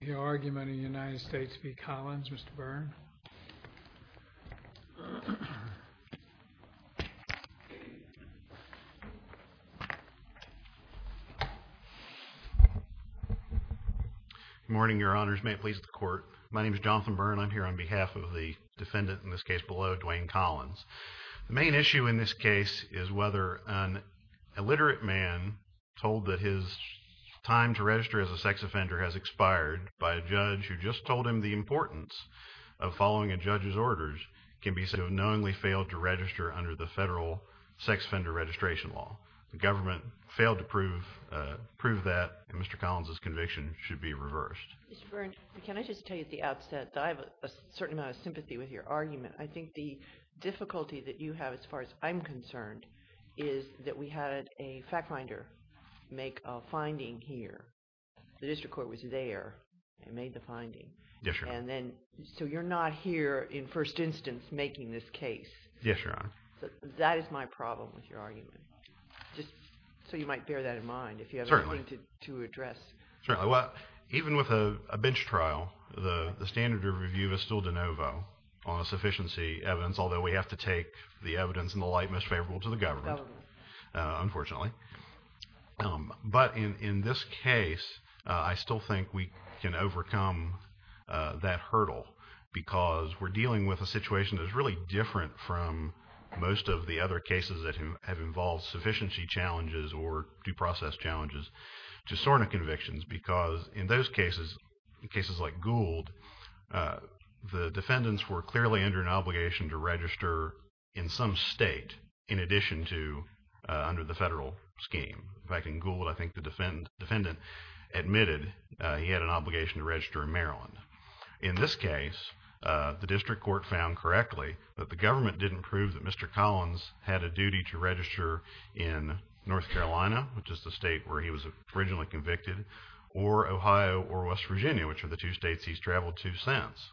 Your argument in the United States v. Collins, Mr. Byrne. Good morning, your honors. May it please the court. My name is Jonathan Byrne. I'm here on behalf of the defendant, in this case below, Dwaine Collins. The main issue in this case is whether an illiterate man told that his time to register as a sex offender has expired by a judge who just told him the importance of following a judge's orders can be said to have knowingly failed to register under the federal sex offender registration law. The government failed to prove that, and Mr. Collins' conviction should be reversed. Mr. Byrne, can I just tell you at the outset that I have a certain amount of sympathy with your argument. I think the difficulty that you have, as far as I'm concerned, is that we had a fact finder make a finding here. The district court was there and made the finding. Yes, your honor. And then, so you're not here, in first instance, making this case. Yes, your honor. That is my problem with your argument. Just so you might bear that in mind, if you have anything to address. Certainly. Even with a bench trial, the standard of review is still de novo on a sufficiency evidence, although we have to take the evidence in the light most favorable to the government, unfortunately. But in this case, I still think we can overcome that hurdle, because we're dealing with a situation that's really different from most of the other cases that have involved sufficiency challenges or due process challenges to SORNA convictions. Because in those cases, cases like Gould, the defendants were clearly under an obligation to register in some state in addition to under the federal scheme. In fact, in Gould, I think the defendant admitted he had an obligation to register in Maryland. In this case, the district court found correctly that the government didn't prove that Mr. Collins had a duty to register in North Carolina, which is the state where he was originally convicted, or Ohio or West Virginia, which are the two states he's traveled to since.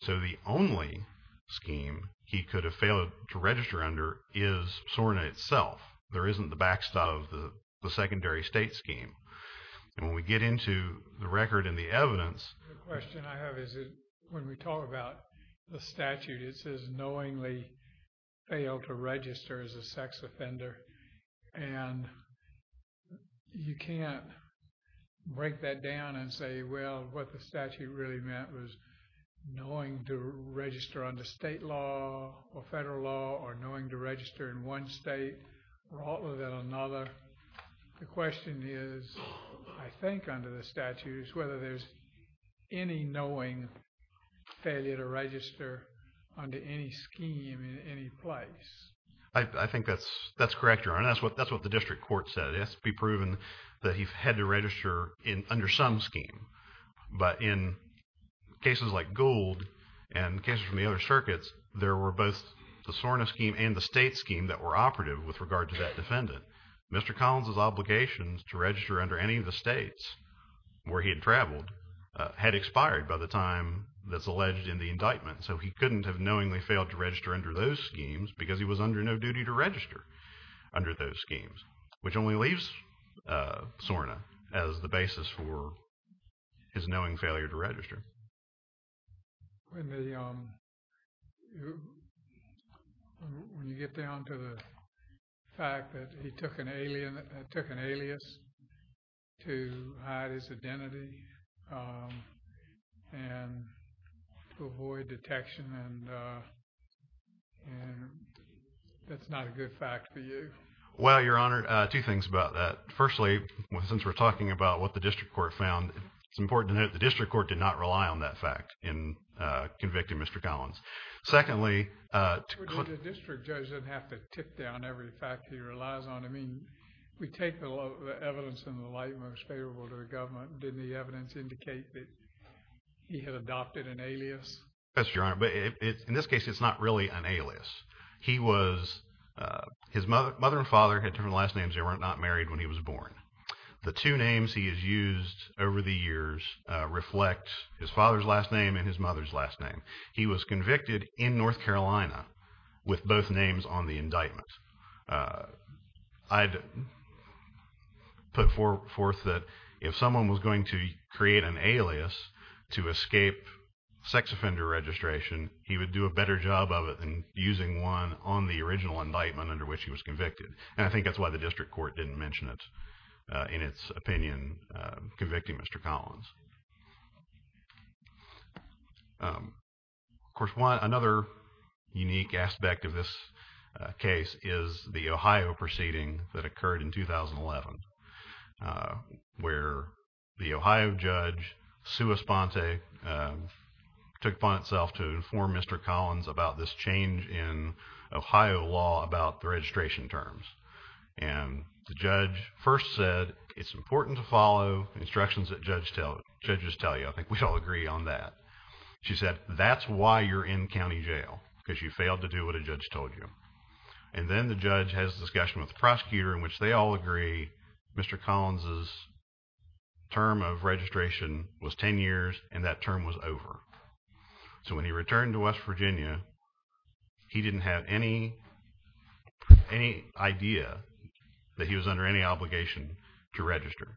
So the only scheme he could have failed to register under is SORNA itself. There isn't the backstop of the secondary state scheme. When we get into the record and the evidence... I think under the statutes, whether there's any knowing failure to register under any scheme in any place. I think that's correct, Your Honor. That's what the district court said. It has to be proven that he had to register under some scheme. But in cases like Gould and cases from the other circuits, there were both the SORNA scheme and the state scheme that were operative with regard to that defendant. Mr. Collins' obligations to register under any of the states where he had traveled had expired by the time that's alleged in the indictment. So he couldn't have knowingly failed to register under those schemes because he was under no duty to register under those schemes, which only leaves SORNA as the basis for his knowing failure to register. When you get down to the fact that he took an alias to hide his identity and to avoid detection, and that's not a good fact for you? Well, Your Honor, two things about that. Firstly, since we're talking about what the district court found, it's important to note the district court did not rely on that fact in convicting Mr. Collins. Secondly... The district judge didn't have to tip down every fact he relies on. I mean, we take the evidence in the light most favorable to the government. Didn't the evidence indicate that he had adopted an alias? Yes, Your Honor, but in this case, it's not really an alias. He was... his mother and father had different last names. They were not married when he was born. The two names he has used over the years reflect his father's last name and his mother's last name. He was convicted in North Carolina with both names on the indictment. I'd put forth that if someone was going to create an alias to escape sex offender registration, he would do a better job of it than using one on the original indictment under which he was convicted. And I think that's why the district court didn't mention it in its opinion, convicting Mr. Collins. Of course, another unique aspect of this case is the Ohio proceeding that occurred in 2011, where the Ohio judge, Sue Esponte, took it upon itself to inform Mr. Collins about this change in Ohio law about the registration terms. And the judge first said, it's important to follow instructions that judges tell you. I think we all agree on that. She said, that's why you're in county jail, because you failed to do what a judge told you. And then the judge has a discussion with the prosecutor in which they all agree Mr. Collins' term of registration was 10 years and that term was over. So when he returned to West Virginia, he didn't have any idea that he was under any obligation to register.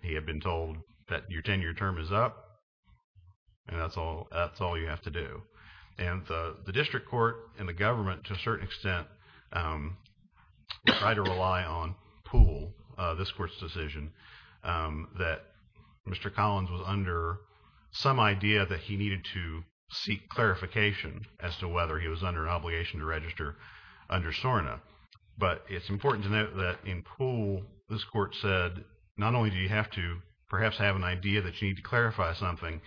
He had been told that your 10-year term is up and that's all you have to do. And the district court and the government, to a certain extent, tried to rely on Poole, this court's decision, that Mr. Collins was under some idea that he needed to seek clarification as to whether he was under an obligation to register under SORNA. But it's important to note that in Poole, this court said, not only do you have to perhaps have an idea that you need to clarify something,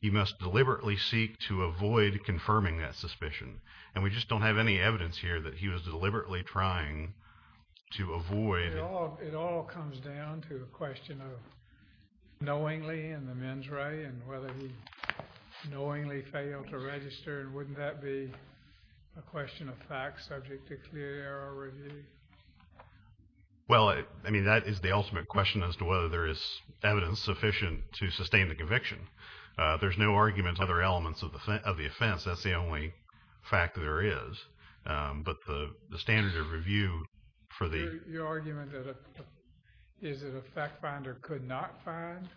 you must deliberately seek to avoid confirming that suspicion. And we just don't have any evidence here that he was deliberately trying to avoid. It all comes down to the question of knowingly in the mens re and whether he knowingly failed to register. Wouldn't that be a question of fact subject to clear error review? Well, I mean, that is the ultimate question as to whether there is evidence sufficient to sustain the conviction. There's no argument on other elements of the offense. That's the only fact there is. But the standard of review for the… Your argument is that a fact finder could not find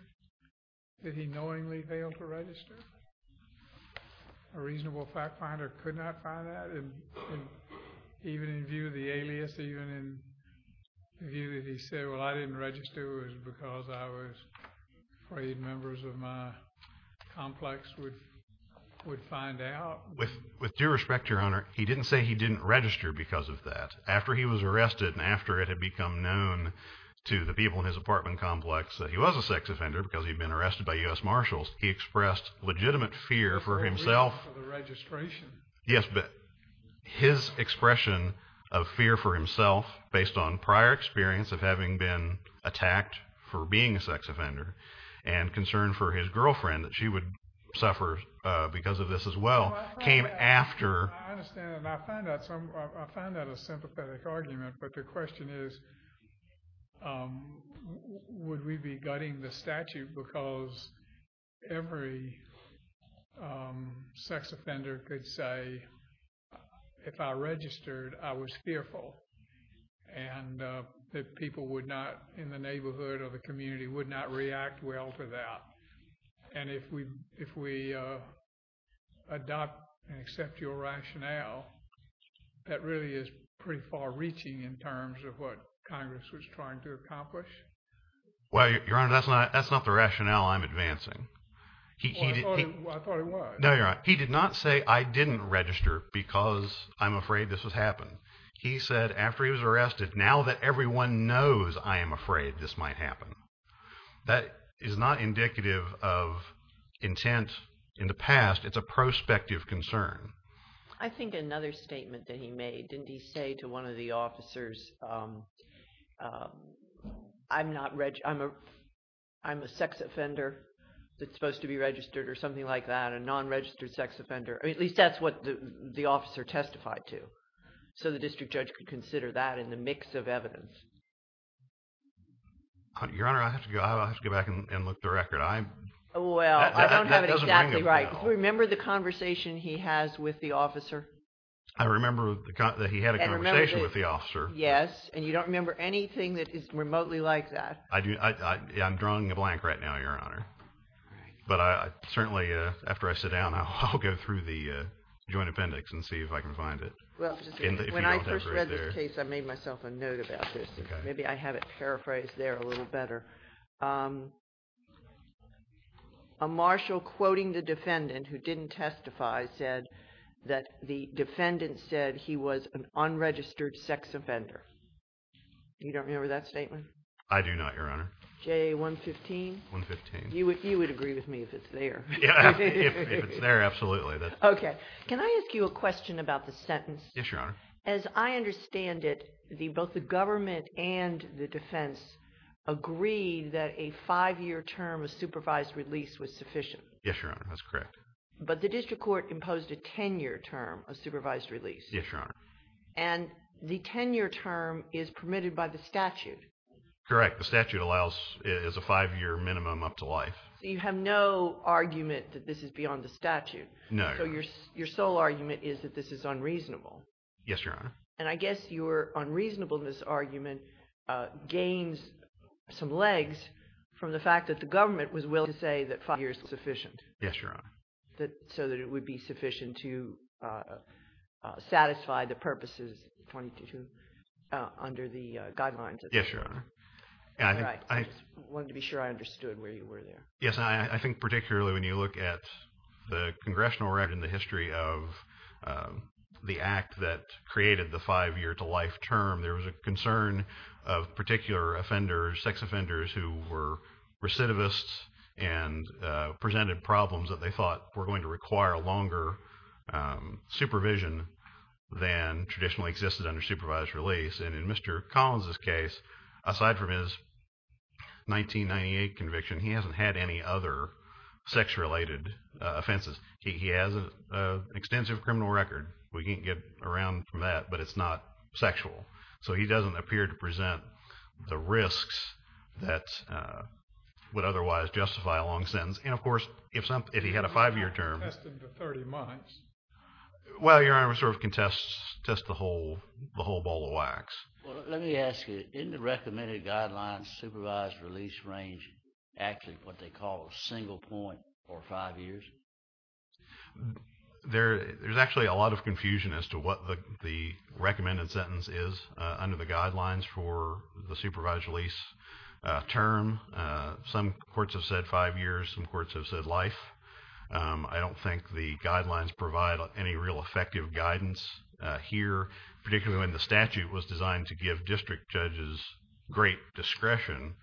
that he knowingly failed to register? A reasonable fact finder could not find that? And even in view of the alias, even in view that he said, well, I didn't register, it was because I was afraid members of my complex would find out? With due respect, Your Honor, he didn't say he didn't register because of that. After he was arrested and after it had become known to the people in his apartment complex that he was a sex offender because he'd been arrested by U.S. Marshals, he expressed legitimate fear for himself. Fear for the registration? Yes, but his expression of fear for himself based on prior experience of having been attacked for being a sex offender and concern for his girlfriend that she would suffer because of this as well came after… I understand, and I find that a sympathetic argument, but the question is would we be gutting the statute because every sex offender could say, if I registered, I was fearful and that people would not, in the neighborhood or the community, would not react well to that. And if we adopt and accept your rationale, that really is pretty far reaching in terms of what Congress was trying to accomplish? Well, Your Honor, that's not the rationale I'm advancing. I thought it was. No, Your Honor, he did not say I didn't register because I'm afraid this has happened. He said after he was arrested, now that everyone knows I am afraid this might happen. That is not indicative of intent in the past. It's a prospective concern. I think another statement that he made, didn't he say to one of the officers, I'm a sex offender that's supposed to be registered or something like that, a non-registered sex offender? At least that's what the officer testified to, so the district judge could consider that in the mix of evidence. Your Honor, I have to go back and look the record. Well, I don't have it exactly right. Remember the conversation he has with the officer? I remember that he had a conversation with the officer. Yes, and you don't remember anything that is remotely like that? I'm drawing a blank right now, Your Honor. But certainly after I sit down, I'll go through the joint appendix and see if I can find it. When I first read this case, I made myself a note about this. Maybe I have it paraphrased there a little better. A marshal quoting the defendant who didn't testify said that the defendant said he was an unregistered sex offender. You don't remember that statement? I do not, Your Honor. JA 115? 115. You would agree with me if it's there. If it's there, absolutely. Okay. Can I ask you a question about the sentence? Yes, Your Honor. As I understand it, both the government and the defense agreed that a five-year term of supervised release was sufficient. Yes, Your Honor. That's correct. But the district court imposed a ten-year term of supervised release. Yes, Your Honor. And the ten-year term is permitted by the statute. Correct. The statute allows it as a five-year minimum up to life. So you have no argument that this is beyond the statute? No. So your sole argument is that this is unreasonable? Yes, Your Honor. And I guess your unreasonableness argument gains some legs from the fact that the government was willing to say that five years was sufficient. Yes, Your Honor. So that it would be sufficient to satisfy the purposes under the guidelines of the statute? Yes, Your Honor. All right. I just wanted to be sure I understood where you were there. Yes, I think particularly when you look at the congressional record and the history of the act that created the five-year to life term, there was a concern of particular offenders, sex offenders, who were recidivists and presented problems that they thought were going to require longer supervision than traditionally existed under supervised release. And in Mr. Collins' case, aside from his 1998 conviction, he hasn't had any other sex-related offenses. He has an extensive criminal record. We can't get around from that, but it's not sexual. So he doesn't appear to present the risks that would otherwise justify a long sentence. And, of course, if he had a five-year term— You can't contest him for 30 months. Well, Your Honor, we sort of can test the whole ball of wax. Well, let me ask you, isn't the recommended guidelines supervised release range actually what they call a single point or five years? There's actually a lot of confusion as to what the recommended sentence is under the guidelines for the supervised release term. Some courts have said five years. Some courts have said life. I don't think the guidelines provide any real effective guidance here, particularly when the statute was designed to give district judges great discretion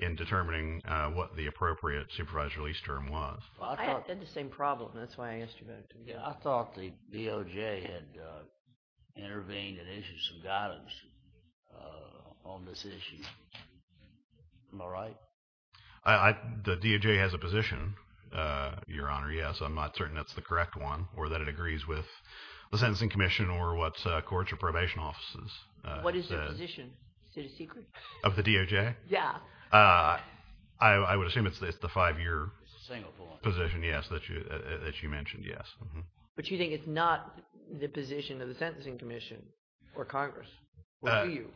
in determining what the appropriate supervised release term was. I had the same problem. That's why I asked you about it. I thought the DOJ had intervened and issued some guidance on this issue. Am I right? The DOJ has a position, Your Honor, yes. I'm not certain that's the correct one or that it agrees with the Sentencing Commission or what courts or probation offices say. What is the position? Is it a secret? Of the DOJ? Yeah. I would assume it's the five-year position, yes, that you mentioned, yes. But you think it's not the position of the Sentencing Commission or Congress? Speak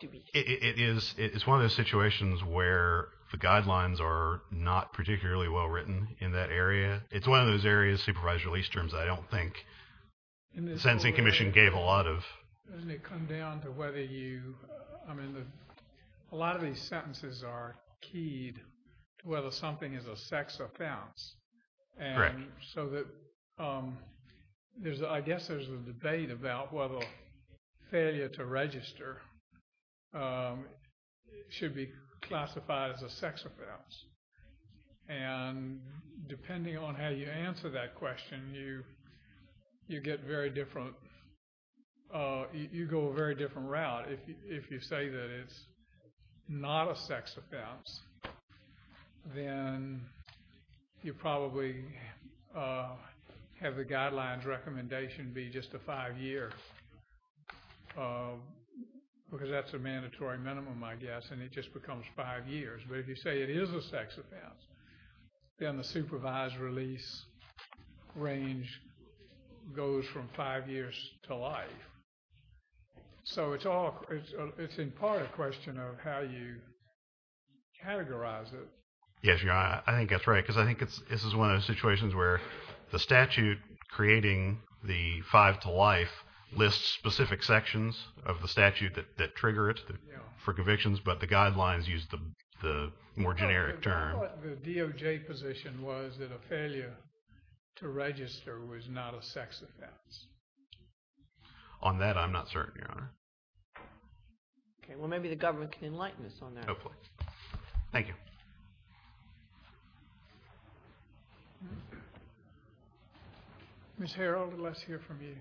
to me. It's one of those situations where the guidelines are not particularly well written in that area. It's one of those areas, supervised release terms, I don't think the Sentencing Commission gave a lot of. Doesn't it come down to whether you, I mean, a lot of these sentences are keyed to whether something is a sex offense. Correct. So that there's, I guess there's a debate about whether failure to register should be classified as a sex offense. And depending on how you answer that question, you get very different, you go a very different route. If you say that it's not a sex offense, then you probably have the guidelines recommendation be just a five-year. Because that's a mandatory minimum, I guess, and it just becomes five years. But if you say it is a sex offense, then the supervised release range goes from five years to life. So it's all, it's in part a question of how you categorize it. Yes, I think that's right, because I think this is one of those situations where the statute creating the five to life lists specific sections of the statute that trigger it for convictions, but the guidelines use the more generic term. I thought the DOJ position was that a failure to register was not a sex offense. On that, I'm not certain, Your Honor. Okay, well maybe the government can enlighten us on that. Hopefully. Thank you. Ms. Harrell, let's hear from you.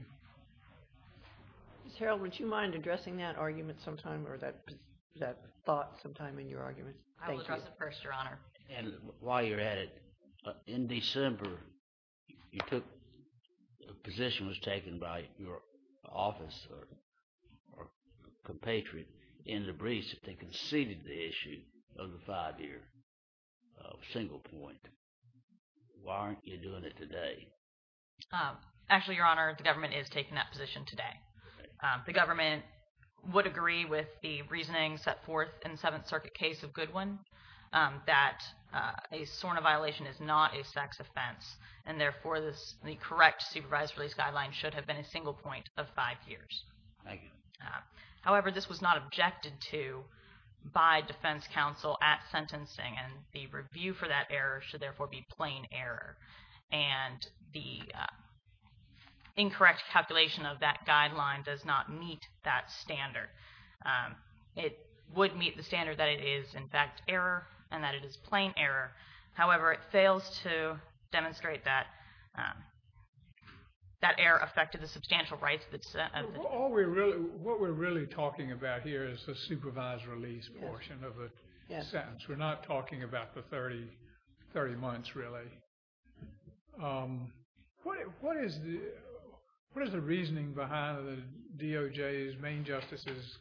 Ms. Harrell, would you mind addressing that argument sometime, or that thought sometime in your argument? I will address it first, Your Honor. And while you're at it, in December, you took, a position was taken by your office or compatriot in the briefs that they conceded the issue of the five-year single point. Why aren't you doing it today? Actually, Your Honor, the government is taking that position today. The government would agree with the reasoning set forth in the Seventh Circuit case of Goodwin, that a SORNA violation is not a sex offense, and therefore the correct supervised release guideline should have been a single point of five years. Thank you. However, this was not objected to by defense counsel at sentencing, and the review for that error should therefore be plain error. And the incorrect calculation of that guideline does not meet that standard. It would meet the standard that it is, in fact, error, and that it is plain error. However, it fails to demonstrate that that error affected the substantial rights of the defendant. What we're really talking about here is the supervised release portion of the sentence. We're not talking about the 30 months, really. What is the reasoning behind the DOJ's main justice's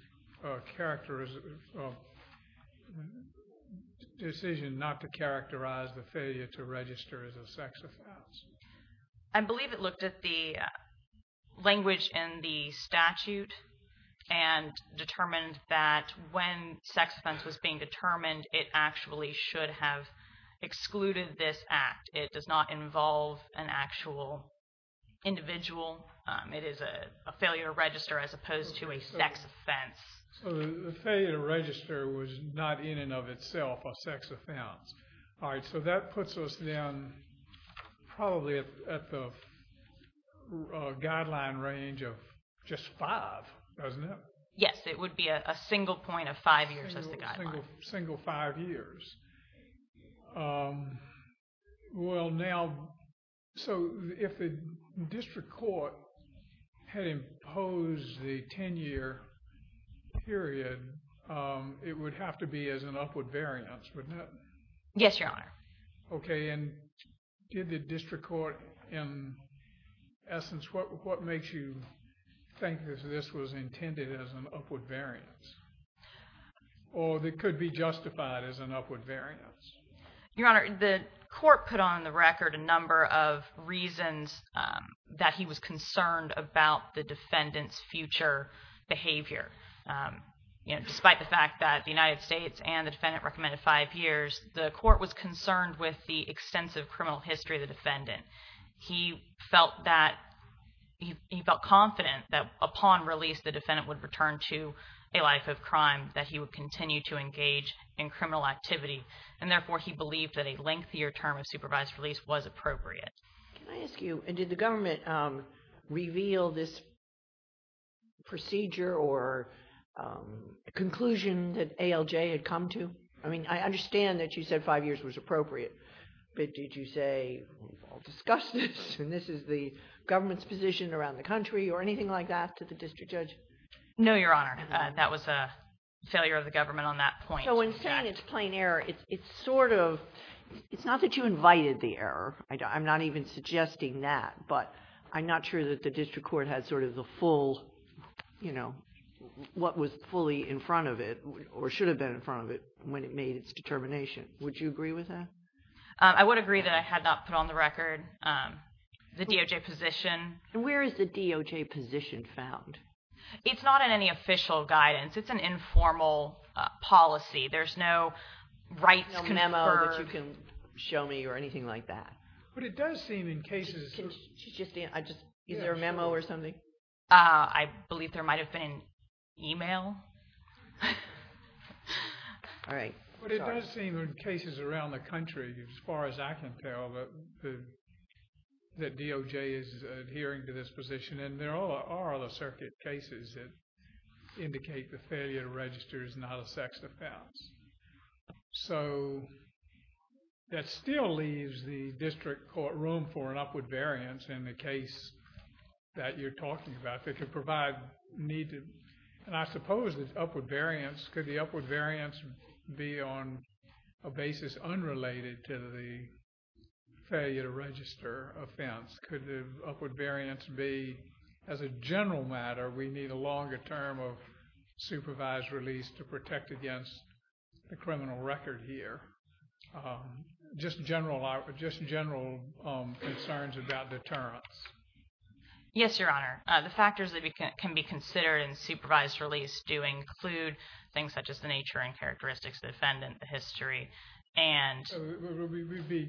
decision not to characterize the failure to register as a sex offense? I believe it looked at the language in the statute and determined that when sex offense was being determined, it actually should have excluded this act. It does not involve an actual individual. It is a failure to register as opposed to a sex offense. So the failure to register was not in and of itself a sex offense. All right. So that puts us, then, probably at the guideline range of just five, doesn't it? Yes. It would be a single point of five years as the guideline. Single five years. Well, now, so if the district court had imposed the 10-year period, it would have to be as an upward variance, wouldn't it? Yes, Your Honor. OK. And did the district court, in essence, what makes you think that this was intended as an upward variance? Or that it could be justified as an upward variance? Your Honor, the court put on the record a number of reasons that he was concerned about the defendant's future behavior. Despite the fact that the United States and the defendant recommended five years, the court was concerned with the extensive criminal history of the defendant. He felt confident that upon release, the defendant would return to a life of crime, that he would continue to engage in criminal activity, and therefore he believed that a lengthier term of supervised release was appropriate. Can I ask you, did the government reveal this procedure or conclusion that ALJ had come to? I mean, I understand that you said five years was appropriate, but did you say, I'll discuss this and this is the government's position around the country or anything like that to the district judge? No, Your Honor. That was a failure of the government on that point. So when saying it's plain error, it's sort of, it's not that you invited the error. I'm not even suggesting that, but I'm not sure that the district court had sort of the full, you know, what was fully in front of it or should have been in front of it when it made its determination. Would you agree with that? I would agree that I had not put on the record the DOJ position. And where is the DOJ position found? It's not in any official guidance. It's an informal policy. There's no rights conferred. There's no memo that you can show me or anything like that? But it does seem in cases. Is there a memo or something? I believe there might have been email. All right. But it does seem in cases around the country, as far as I can tell, that DOJ is adhering to this position. And there are other circuit cases that indicate the failure to register is not a sex offense. So that still leaves the district court room for an upward variance in the case that you're talking about that could provide need to, and I suppose it's upward variance. Could the upward variance be on a basis unrelated to the failure to register offense? Could the upward variance be, as a general matter, we need a longer term of supervised release to protect against the criminal record here? Just general concerns about deterrence. Yes, Your Honor. The factors that can be considered in supervised release do include things such as the nature and characteristics of the defendant, the history, and... So would we be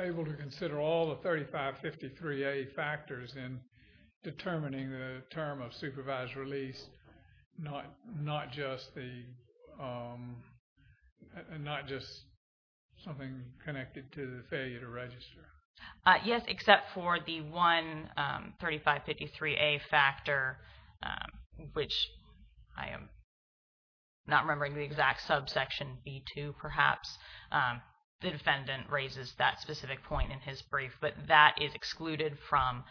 able to consider all the 3553A factors in determining the term of supervised release and not just something connected to the failure to register? Yes, except for the one 3553A factor, which I am not remembering the exact subsection B2 perhaps. The defendant raises that specific point in his brief, but that is excluded from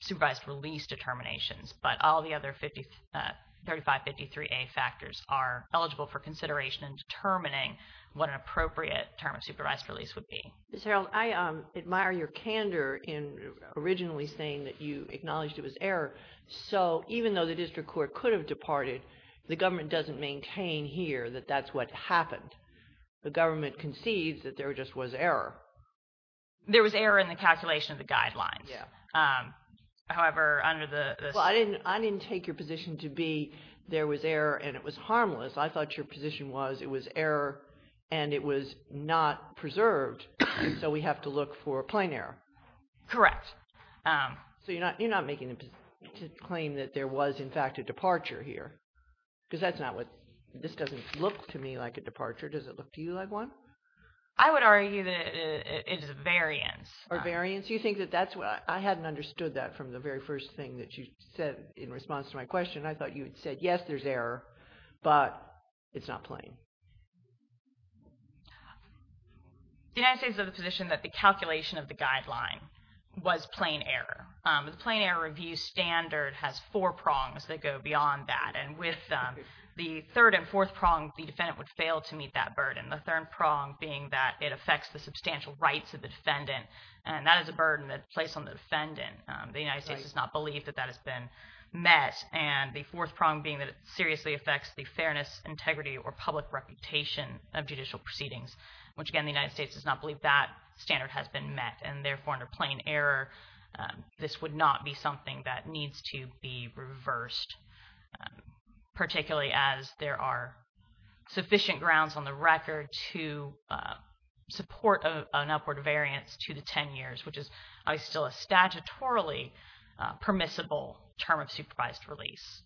supervised release determinations. But all the other 3553A factors are eligible for consideration in determining what an appropriate term of supervised release would be. Ms. Harreld, I admire your candor in originally saying that you So even though the district court could have departed, the government doesn't maintain here that that's what happened. The government concedes that there just was error. There was error in the calculation of the guidelines. However, under the... I didn't take your position to be there was error and it was harmless. I thought your position was it was error and it was not preserved, so we have to look for a plain error. Correct. So you're not making a claim that there was, in fact, a departure here? Because that's not what... this doesn't look to me like a departure. Does it look to you like one? I would argue that it is a variance. A variance? You think that that's what... I hadn't understood that from the very first thing that you said in response to my question. I thought you had said, yes, there's error, but it's not plain. The United States is of the position that the calculation of the guideline was plain error. The plain error review standard has four prongs that go beyond that, and with the third and fourth prong, the defendant would fail to meet that burden, the third prong being that it affects the substantial rights of the defendant, and that is a burden that's placed on the defendant. The United States does not believe that that has been met, and the fourth prong being that it seriously affects the fairness, integrity, or public reputation of judicial proceedings, which, again, the United States does not believe that standard has been met and, therefore, under plain error, this would not be something that needs to be reversed, particularly as there are sufficient grounds on the record to support an upward variance to the ten years, which is still a statutorily permissible term of supervised release.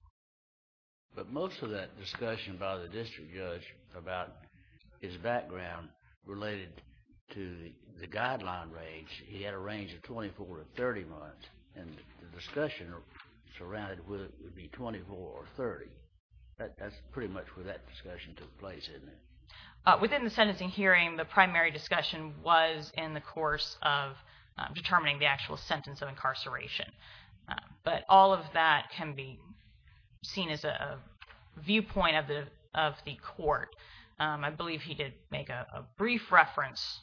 But most of that discussion by the district judge about his background related to the guideline range, he had a range of 24 to 30 months, and the discussion surrounded whether it would be 24 or 30. That's pretty much where that discussion took place, isn't it? Within the sentencing hearing, the primary discussion was in the course of determining the actual sentence of incarceration, but all of that can be seen as a viewpoint of the court. I believe he did make a brief reference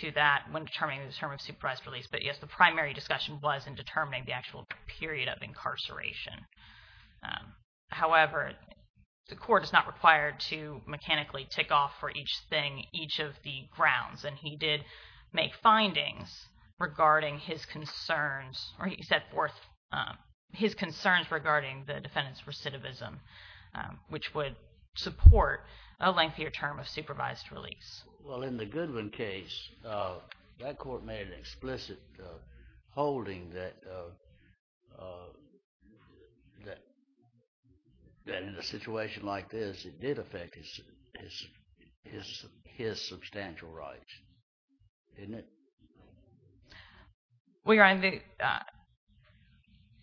to that when determining the term of supervised release, but, yes, the primary discussion was in determining the actual period of incarceration. However, the court is not required to mechanically tick off for each thing each of the grounds, and he did make findings regarding his concerns, or he set forth his concerns regarding the defendant's recidivism, which would support a lengthier term of supervised release. Well, in the Goodwin case, that court made an explicit holding that in a situation like this, it did affect his substantial rights, didn't it? Well, your Honor,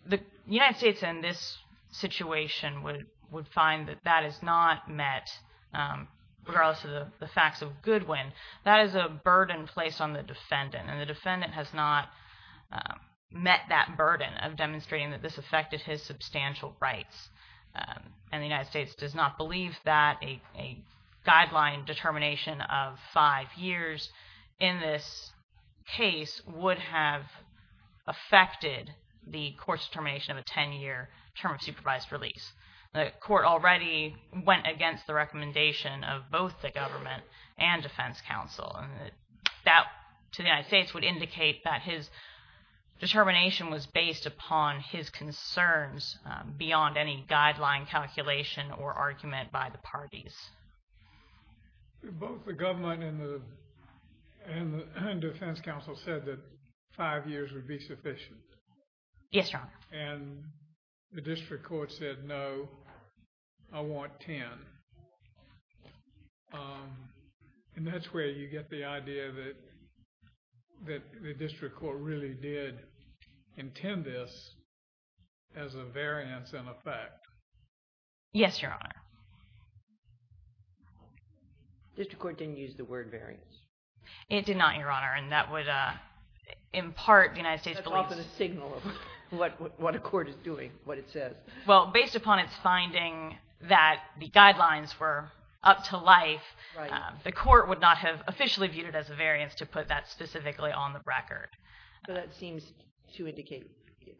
the United States, in this situation, would find that that is not met, regardless of the facts of Goodwin. That is a burden placed on the defendant, and the defendant has not met that burden of demonstrating that this affected his substantial rights, and the United States does not believe that a guideline determination of five years in this case would have affected the court's determination of a 10-year term of supervised release. The court already went against the recommendation of both the government and defense counsel, and that, to the United States, would indicate that his determination was based upon his concerns beyond any guideline calculation or argument by the parties. Both the government and the defense counsel said that five years would be sufficient. Yes, Your Honor. And the district court said, no, I want 10. And that's where you get the idea that the district court really did intend this as a variance and a fact. Yes, Your Honor. The district court didn't use the word variance. It did not, Your Honor, and that would, in part, the United States believes That's often a signal of what a court is doing, what it says. Well, based upon its finding that the guidelines were up to life, the court would not have officially viewed it as a variance to put that specifically on the record. So that seems to indicate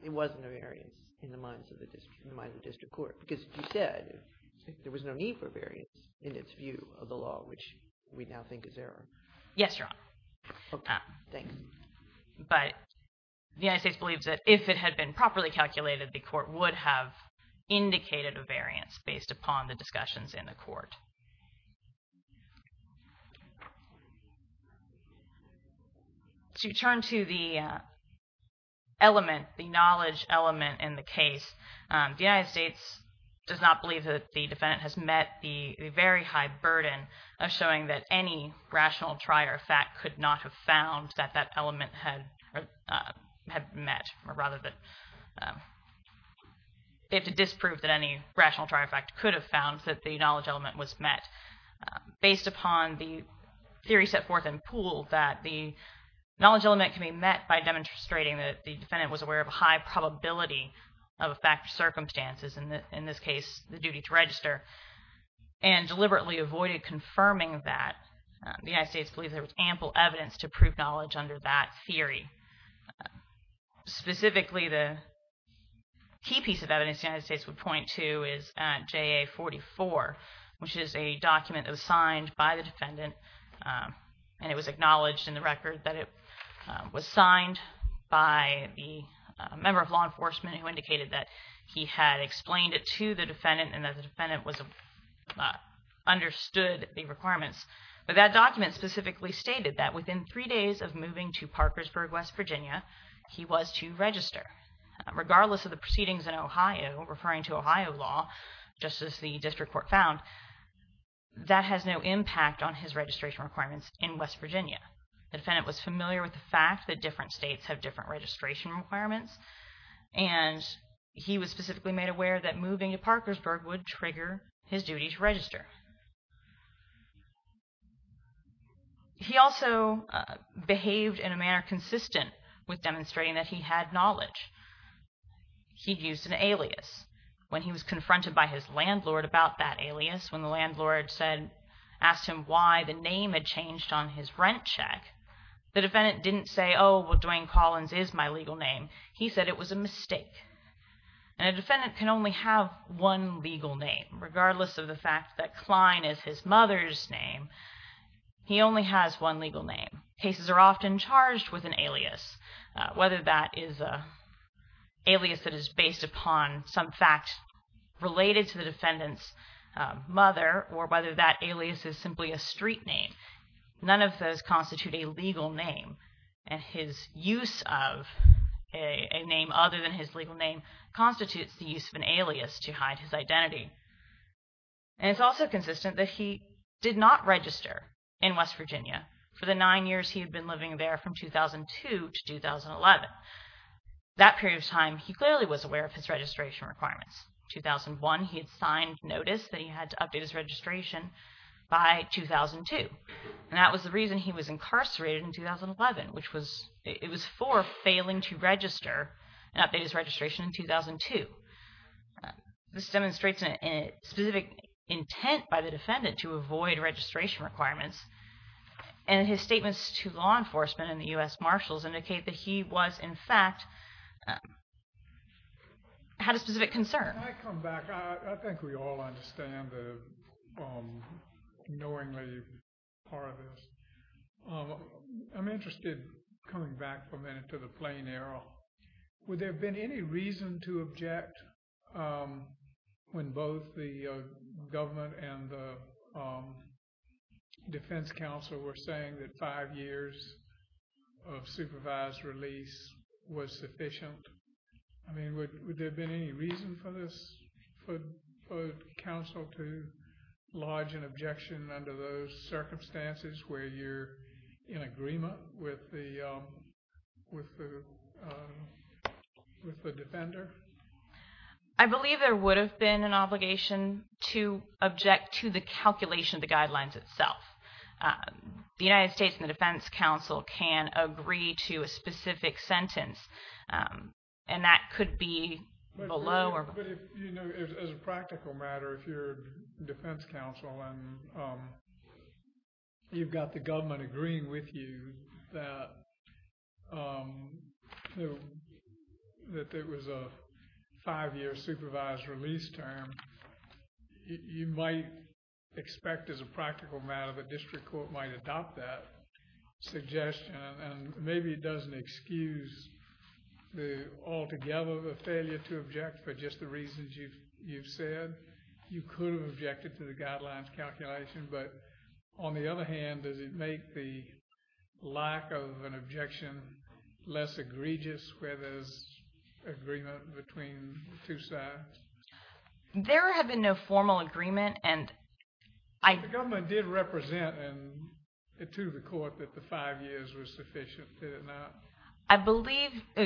it wasn't a variance in the minds of the district court, because you said there was no need for a variance in its view of the law, which we now think is error. Yes, Your Honor. Thanks. But the United States believes that if it had been properly calculated, the court would have indicated a variance based upon the discussions in the court. To turn to the element, the knowledge element in the case, the United States does not believe that the defendant has met the very high burden of showing that any rational trier fact could not have found that that element had met, or rather that they have to disprove that any rational trier fact could have found that the knowledge element was met. Based upon the theory set forth in Poole that the knowledge element can be met by demonstrating that the defendant was aware of a high probability of a fact or circumstances, in this case the duty to register, and deliberately avoided confirming that, the United States believes there was ample evidence to prove knowledge under that theory. Specifically, the key piece of evidence the United States would point to is JA44, which is a document that was signed by the defendant, and it was acknowledged in the record that it was signed by the member of law enforcement who indicated that he had explained it to the defendant and that the defendant understood the requirements. But that document specifically stated that within three days of moving to Parkersburg, West Virginia, he was to register. Regardless of the proceedings in Ohio, referring to Ohio law, just as the district court found, that has no impact on his registration requirements in West Virginia. The defendant was familiar with the fact that different states have different registration requirements, and he was specifically made aware that moving to Parkersburg would trigger his duty to register. He also behaved in a manner consistent with demonstrating that he had knowledge. He used an alias. When he was confronted by his landlord about that alias, when the landlord asked him why the name had changed on his rent check, the defendant didn't say, oh, well, Dwayne Collins is my legal name. He said it was a mistake. And a defendant can only have one legal name, regardless of the fact that Klein is his mother's name. He only has one legal name. Cases are often charged with an alias, whether that is an alias that is based upon some fact related to the defendant's mother, or whether that alias is simply a street name. None of those constitute a legal name. And his use of a name other than his legal name constitutes the use of an alias to hide his identity. And it's also consistent that he did not register in West Virginia for the nine years he had been living there from 2002 to 2011. That period of time, he clearly was aware of his registration requirements. In 2001, he had signed notice that he had to update his registration by 2002. And that was the reason he was incarcerated in 2011, which it was for failing to register and update his registration in 2002. This demonstrates a specific intent by the defendant to avoid registration requirements. And his statements to law enforcement and the U.S. Marshals indicate that he was, in fact, had a specific concern. Can I come back? I think we all understand the knowingly part of this. I'm interested, coming back for a minute, to the plain error. Would there have been any reason to object when both the government and the defense counsel were saying that five years of supervised release was sufficient? I mean, would there have been any reason for the counsel to lodge an objection under those circumstances where you're in agreement with the defender? I believe there would have been an obligation to object to the calculation of the guidelines itself. The United States and the defense counsel can agree to a specific sentence, and that could be below. As a practical matter, if you're defense counsel and you've got the government agreeing with you that it was a five-year supervised release term, you might expect as a practical matter the district court might adopt that suggestion. And maybe it doesn't excuse altogether the failure to object for just the reasons you've said. You could have objected to the guidelines calculation. But on the other hand, does it make the lack of an objection less egregious where there's agreement between the two sides? There had been no formal agreement. The government did represent to the court that the five years was sufficient, did it not?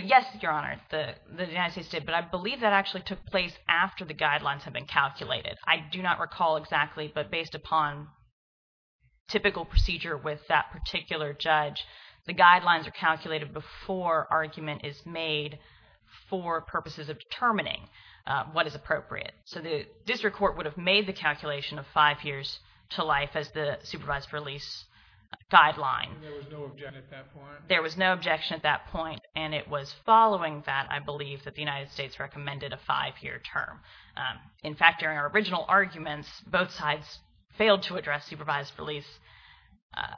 Yes, Your Honor, the United States did. But I believe that actually took place after the guidelines had been calculated. I do not recall exactly, but based upon typical procedure with that particular judge, the guidelines are calculated before argument is made for purposes of determining what is appropriate. So the district court would have made the calculation of five years to life as the supervised release guideline. There was no objection at that point? There was no objection at that point, and it was following that, I believe, that the United States recommended a five-year term. In fact, during our original arguments, both sides failed to address supervised release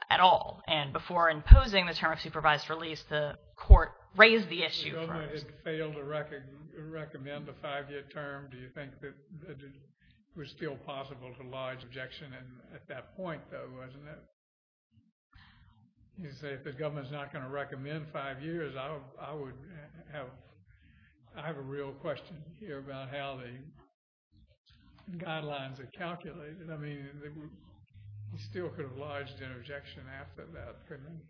at all. And before imposing the term of supervised release, the court raised the issue. If the government had failed to recommend a five-year term, do you think that it was still possible to lodge objection at that point, though, wasn't it? You say if the government's not going to recommend five years, I have a real question here about how the guidelines are calculated. I mean, he still could have lodged an objection after that, couldn't he?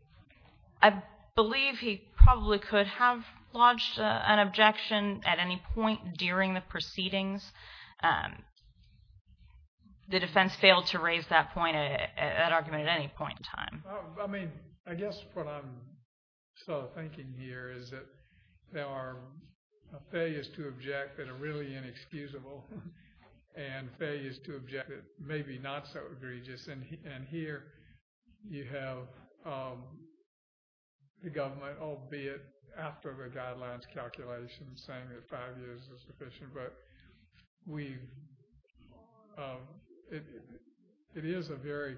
I believe he probably could have lodged an objection at any point during the proceedings. The defense failed to raise that argument at any point in time. I mean, I guess what I'm sort of thinking here is that there are failures to object that are really inexcusable, and failures to object that may be not so egregious. And here you have the government, albeit after the guidelines calculation, saying that five years is sufficient. But it is a very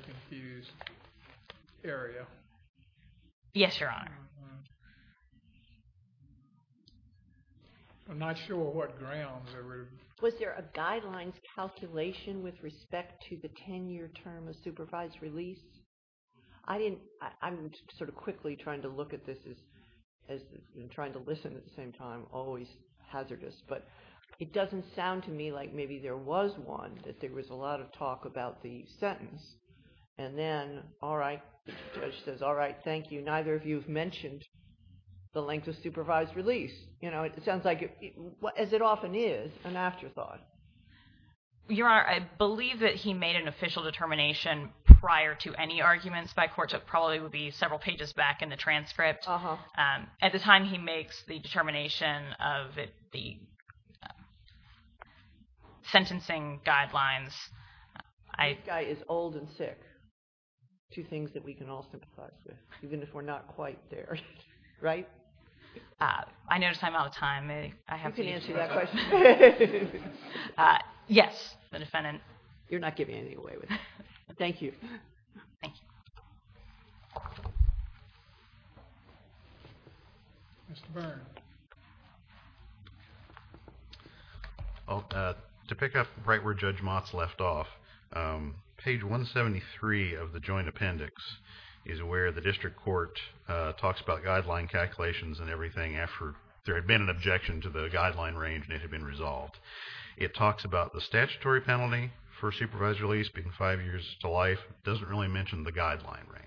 confused area. Yes, Your Honor. I'm not sure what grounds are— Was there a guidelines calculation with respect to the 10-year term of supervised release? I'm sort of quickly trying to look at this and trying to listen at the same time, always hazardous. But it doesn't sound to me like maybe there was one, that there was a lot of talk about the sentence. And then, all right, the judge says, all right, thank you. Neither of you have mentioned the length of supervised release. It sounds like, as it often is, an afterthought. Your Honor, I believe that he made an official determination prior to any arguments by court. It probably would be several pages back in the transcript. At the time he makes the determination of the sentencing guidelines— This guy is old and sick, two things that we can all sympathize with, even if we're not quite there, right? I notice I'm out of time. You can answer that question. Yes, the defendant, you're not giving anything away with that. Thank you. Thank you. Mr. Byrne. To pick up right where Judge Motz left off, page 173 of the joint appendix is where the district court talks about the guidelines calculations and everything after there had been an objection to the guideline range and it had been resolved. It talks about the statutory penalty for supervised release being five years to life. It doesn't really mention the guideline range.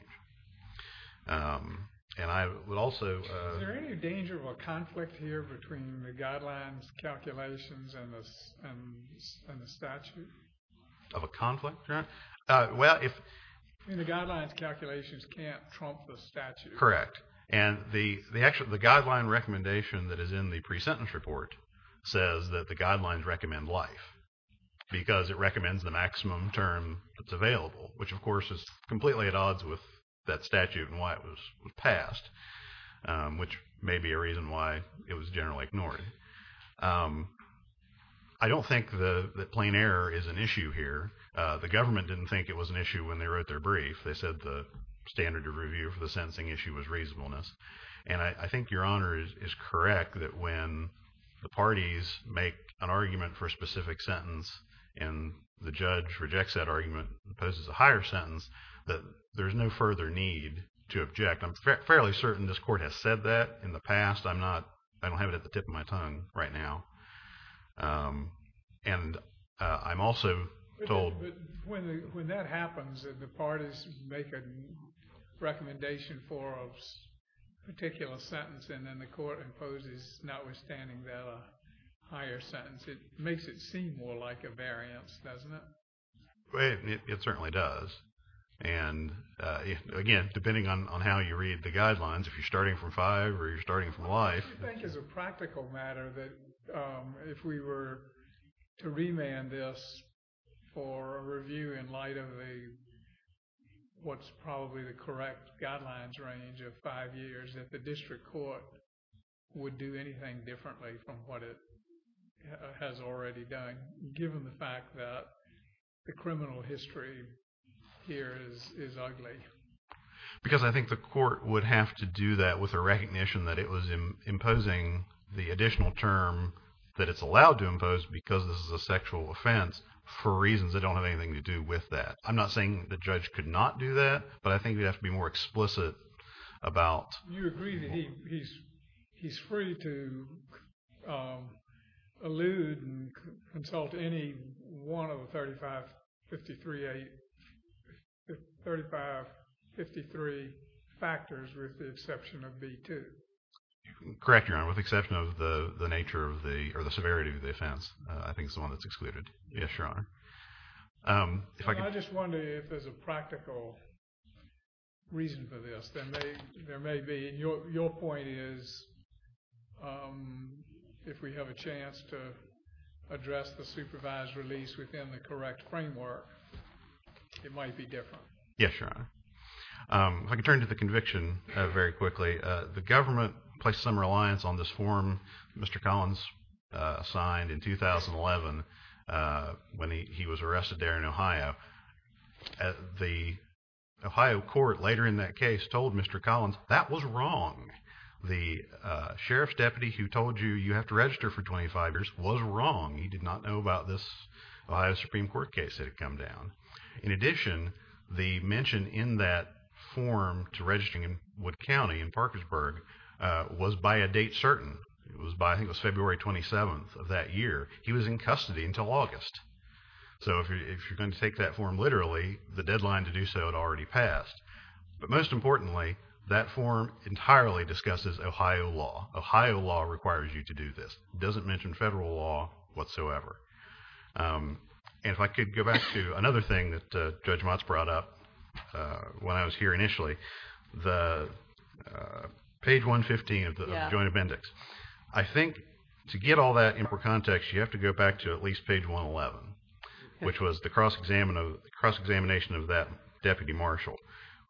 And I would also— Is there any danger of a conflict here between the guidelines calculations and the statute? Of a conflict, Your Honor? Well, if— I mean, the guidelines calculations can't trump the statute. Correct. And the guideline recommendation that is in the pre-sentence report says that the guidelines recommend life because it recommends the maximum term that's available, which, of course, is completely at odds with that statute and why it was passed, which may be a reason why it was generally ignored. I don't think that plain error is an issue here. The government didn't think it was an issue when they wrote their brief. They said the standard of review for the sentencing issue was reasonableness. And I think Your Honor is correct that when the parties make an argument for a specific sentence and the judge rejects that argument and poses a higher sentence, that there's no further need to object. I'm fairly certain this Court has said that in the past. I'm not—I don't have it at the tip of my tongue right now. And I'm also told— When that happens and the parties make a recommendation for a particular sentence and then the Court imposes, notwithstanding that, a higher sentence, it makes it seem more like a variance, doesn't it? It certainly does. And, again, depending on how you read the guidelines, if you're starting from five or you're starting from life— I think as a practical matter that if we were to remand this for a review in light of what's probably the correct guidelines range of five years, that the district court would do anything differently from what it has already done, given the fact that the criminal history here is ugly. Because I think the Court would have to do that with a recognition that it was imposing the additional term that it's allowed to impose because this is a sexual offense for reasons that don't have anything to do with that. I'm not saying the judge could not do that, but I think we'd have to be more explicit about— with the exception of B2. Correct, Your Honor, with the exception of the nature of the—or the severity of the offense. I think it's the one that's excluded. Yes, Your Honor. I just wonder if there's a practical reason for this. There may be. Your point is if we have a chance to address the supervised release within the correct framework, it might be different. Yes, Your Honor. If I could turn to the conviction very quickly. The government placed some reliance on this form Mr. Collins signed in 2011 when he was arrested there in Ohio. The Ohio court later in that case told Mr. Collins that was wrong. The sheriff's deputy who told you you have to register for 25 years was wrong. He did not know about this Ohio Supreme Court case that had come down. In addition, the mention in that form to register in Wood County in Parkersburg was by a date certain. It was by—I think it was February 27th of that year. He was in custody until August. So if you're going to take that form literally, the deadline to do so had already passed. But most importantly, that form entirely discusses Ohio law. Ohio law requires you to do this. It doesn't mention federal law whatsoever. If I could go back to another thing that Judge Motz brought up when I was here initially, the page 115 of the Joint Appendix. I think to get all that in context, you have to go back to at least page 111, which was the cross-examination of that deputy marshal.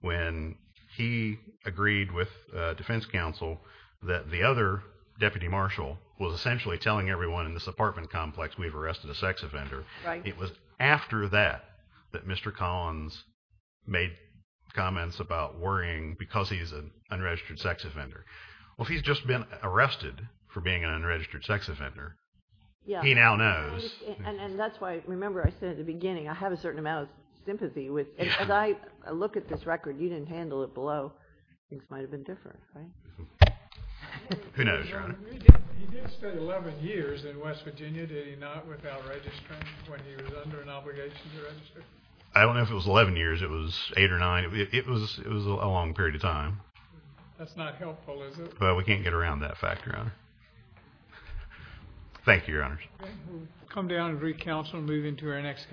When he agreed with defense counsel that the other deputy marshal was essentially telling everyone in this apartment complex we've arrested a sex offender. It was after that that Mr. Collins made comments about worrying because he's an unregistered sex offender. Well, he's just been arrested for being an unregistered sex offender. He now knows. And that's why, remember I said at the beginning, I have a certain amount of sympathy. As I look at this record, you didn't handle it below. Things might have been different, right? Who knows, Your Honor. He did spend 11 years in West Virginia, did he not, without registering when he was under an obligation to register? I don't know if it was 11 years. It was eight or nine. It was a long period of time. That's not helpful, is it? Well, we can't get around that fact, Your Honor. Thank you, Your Honors. We'll come down and recounsel and move into our next case.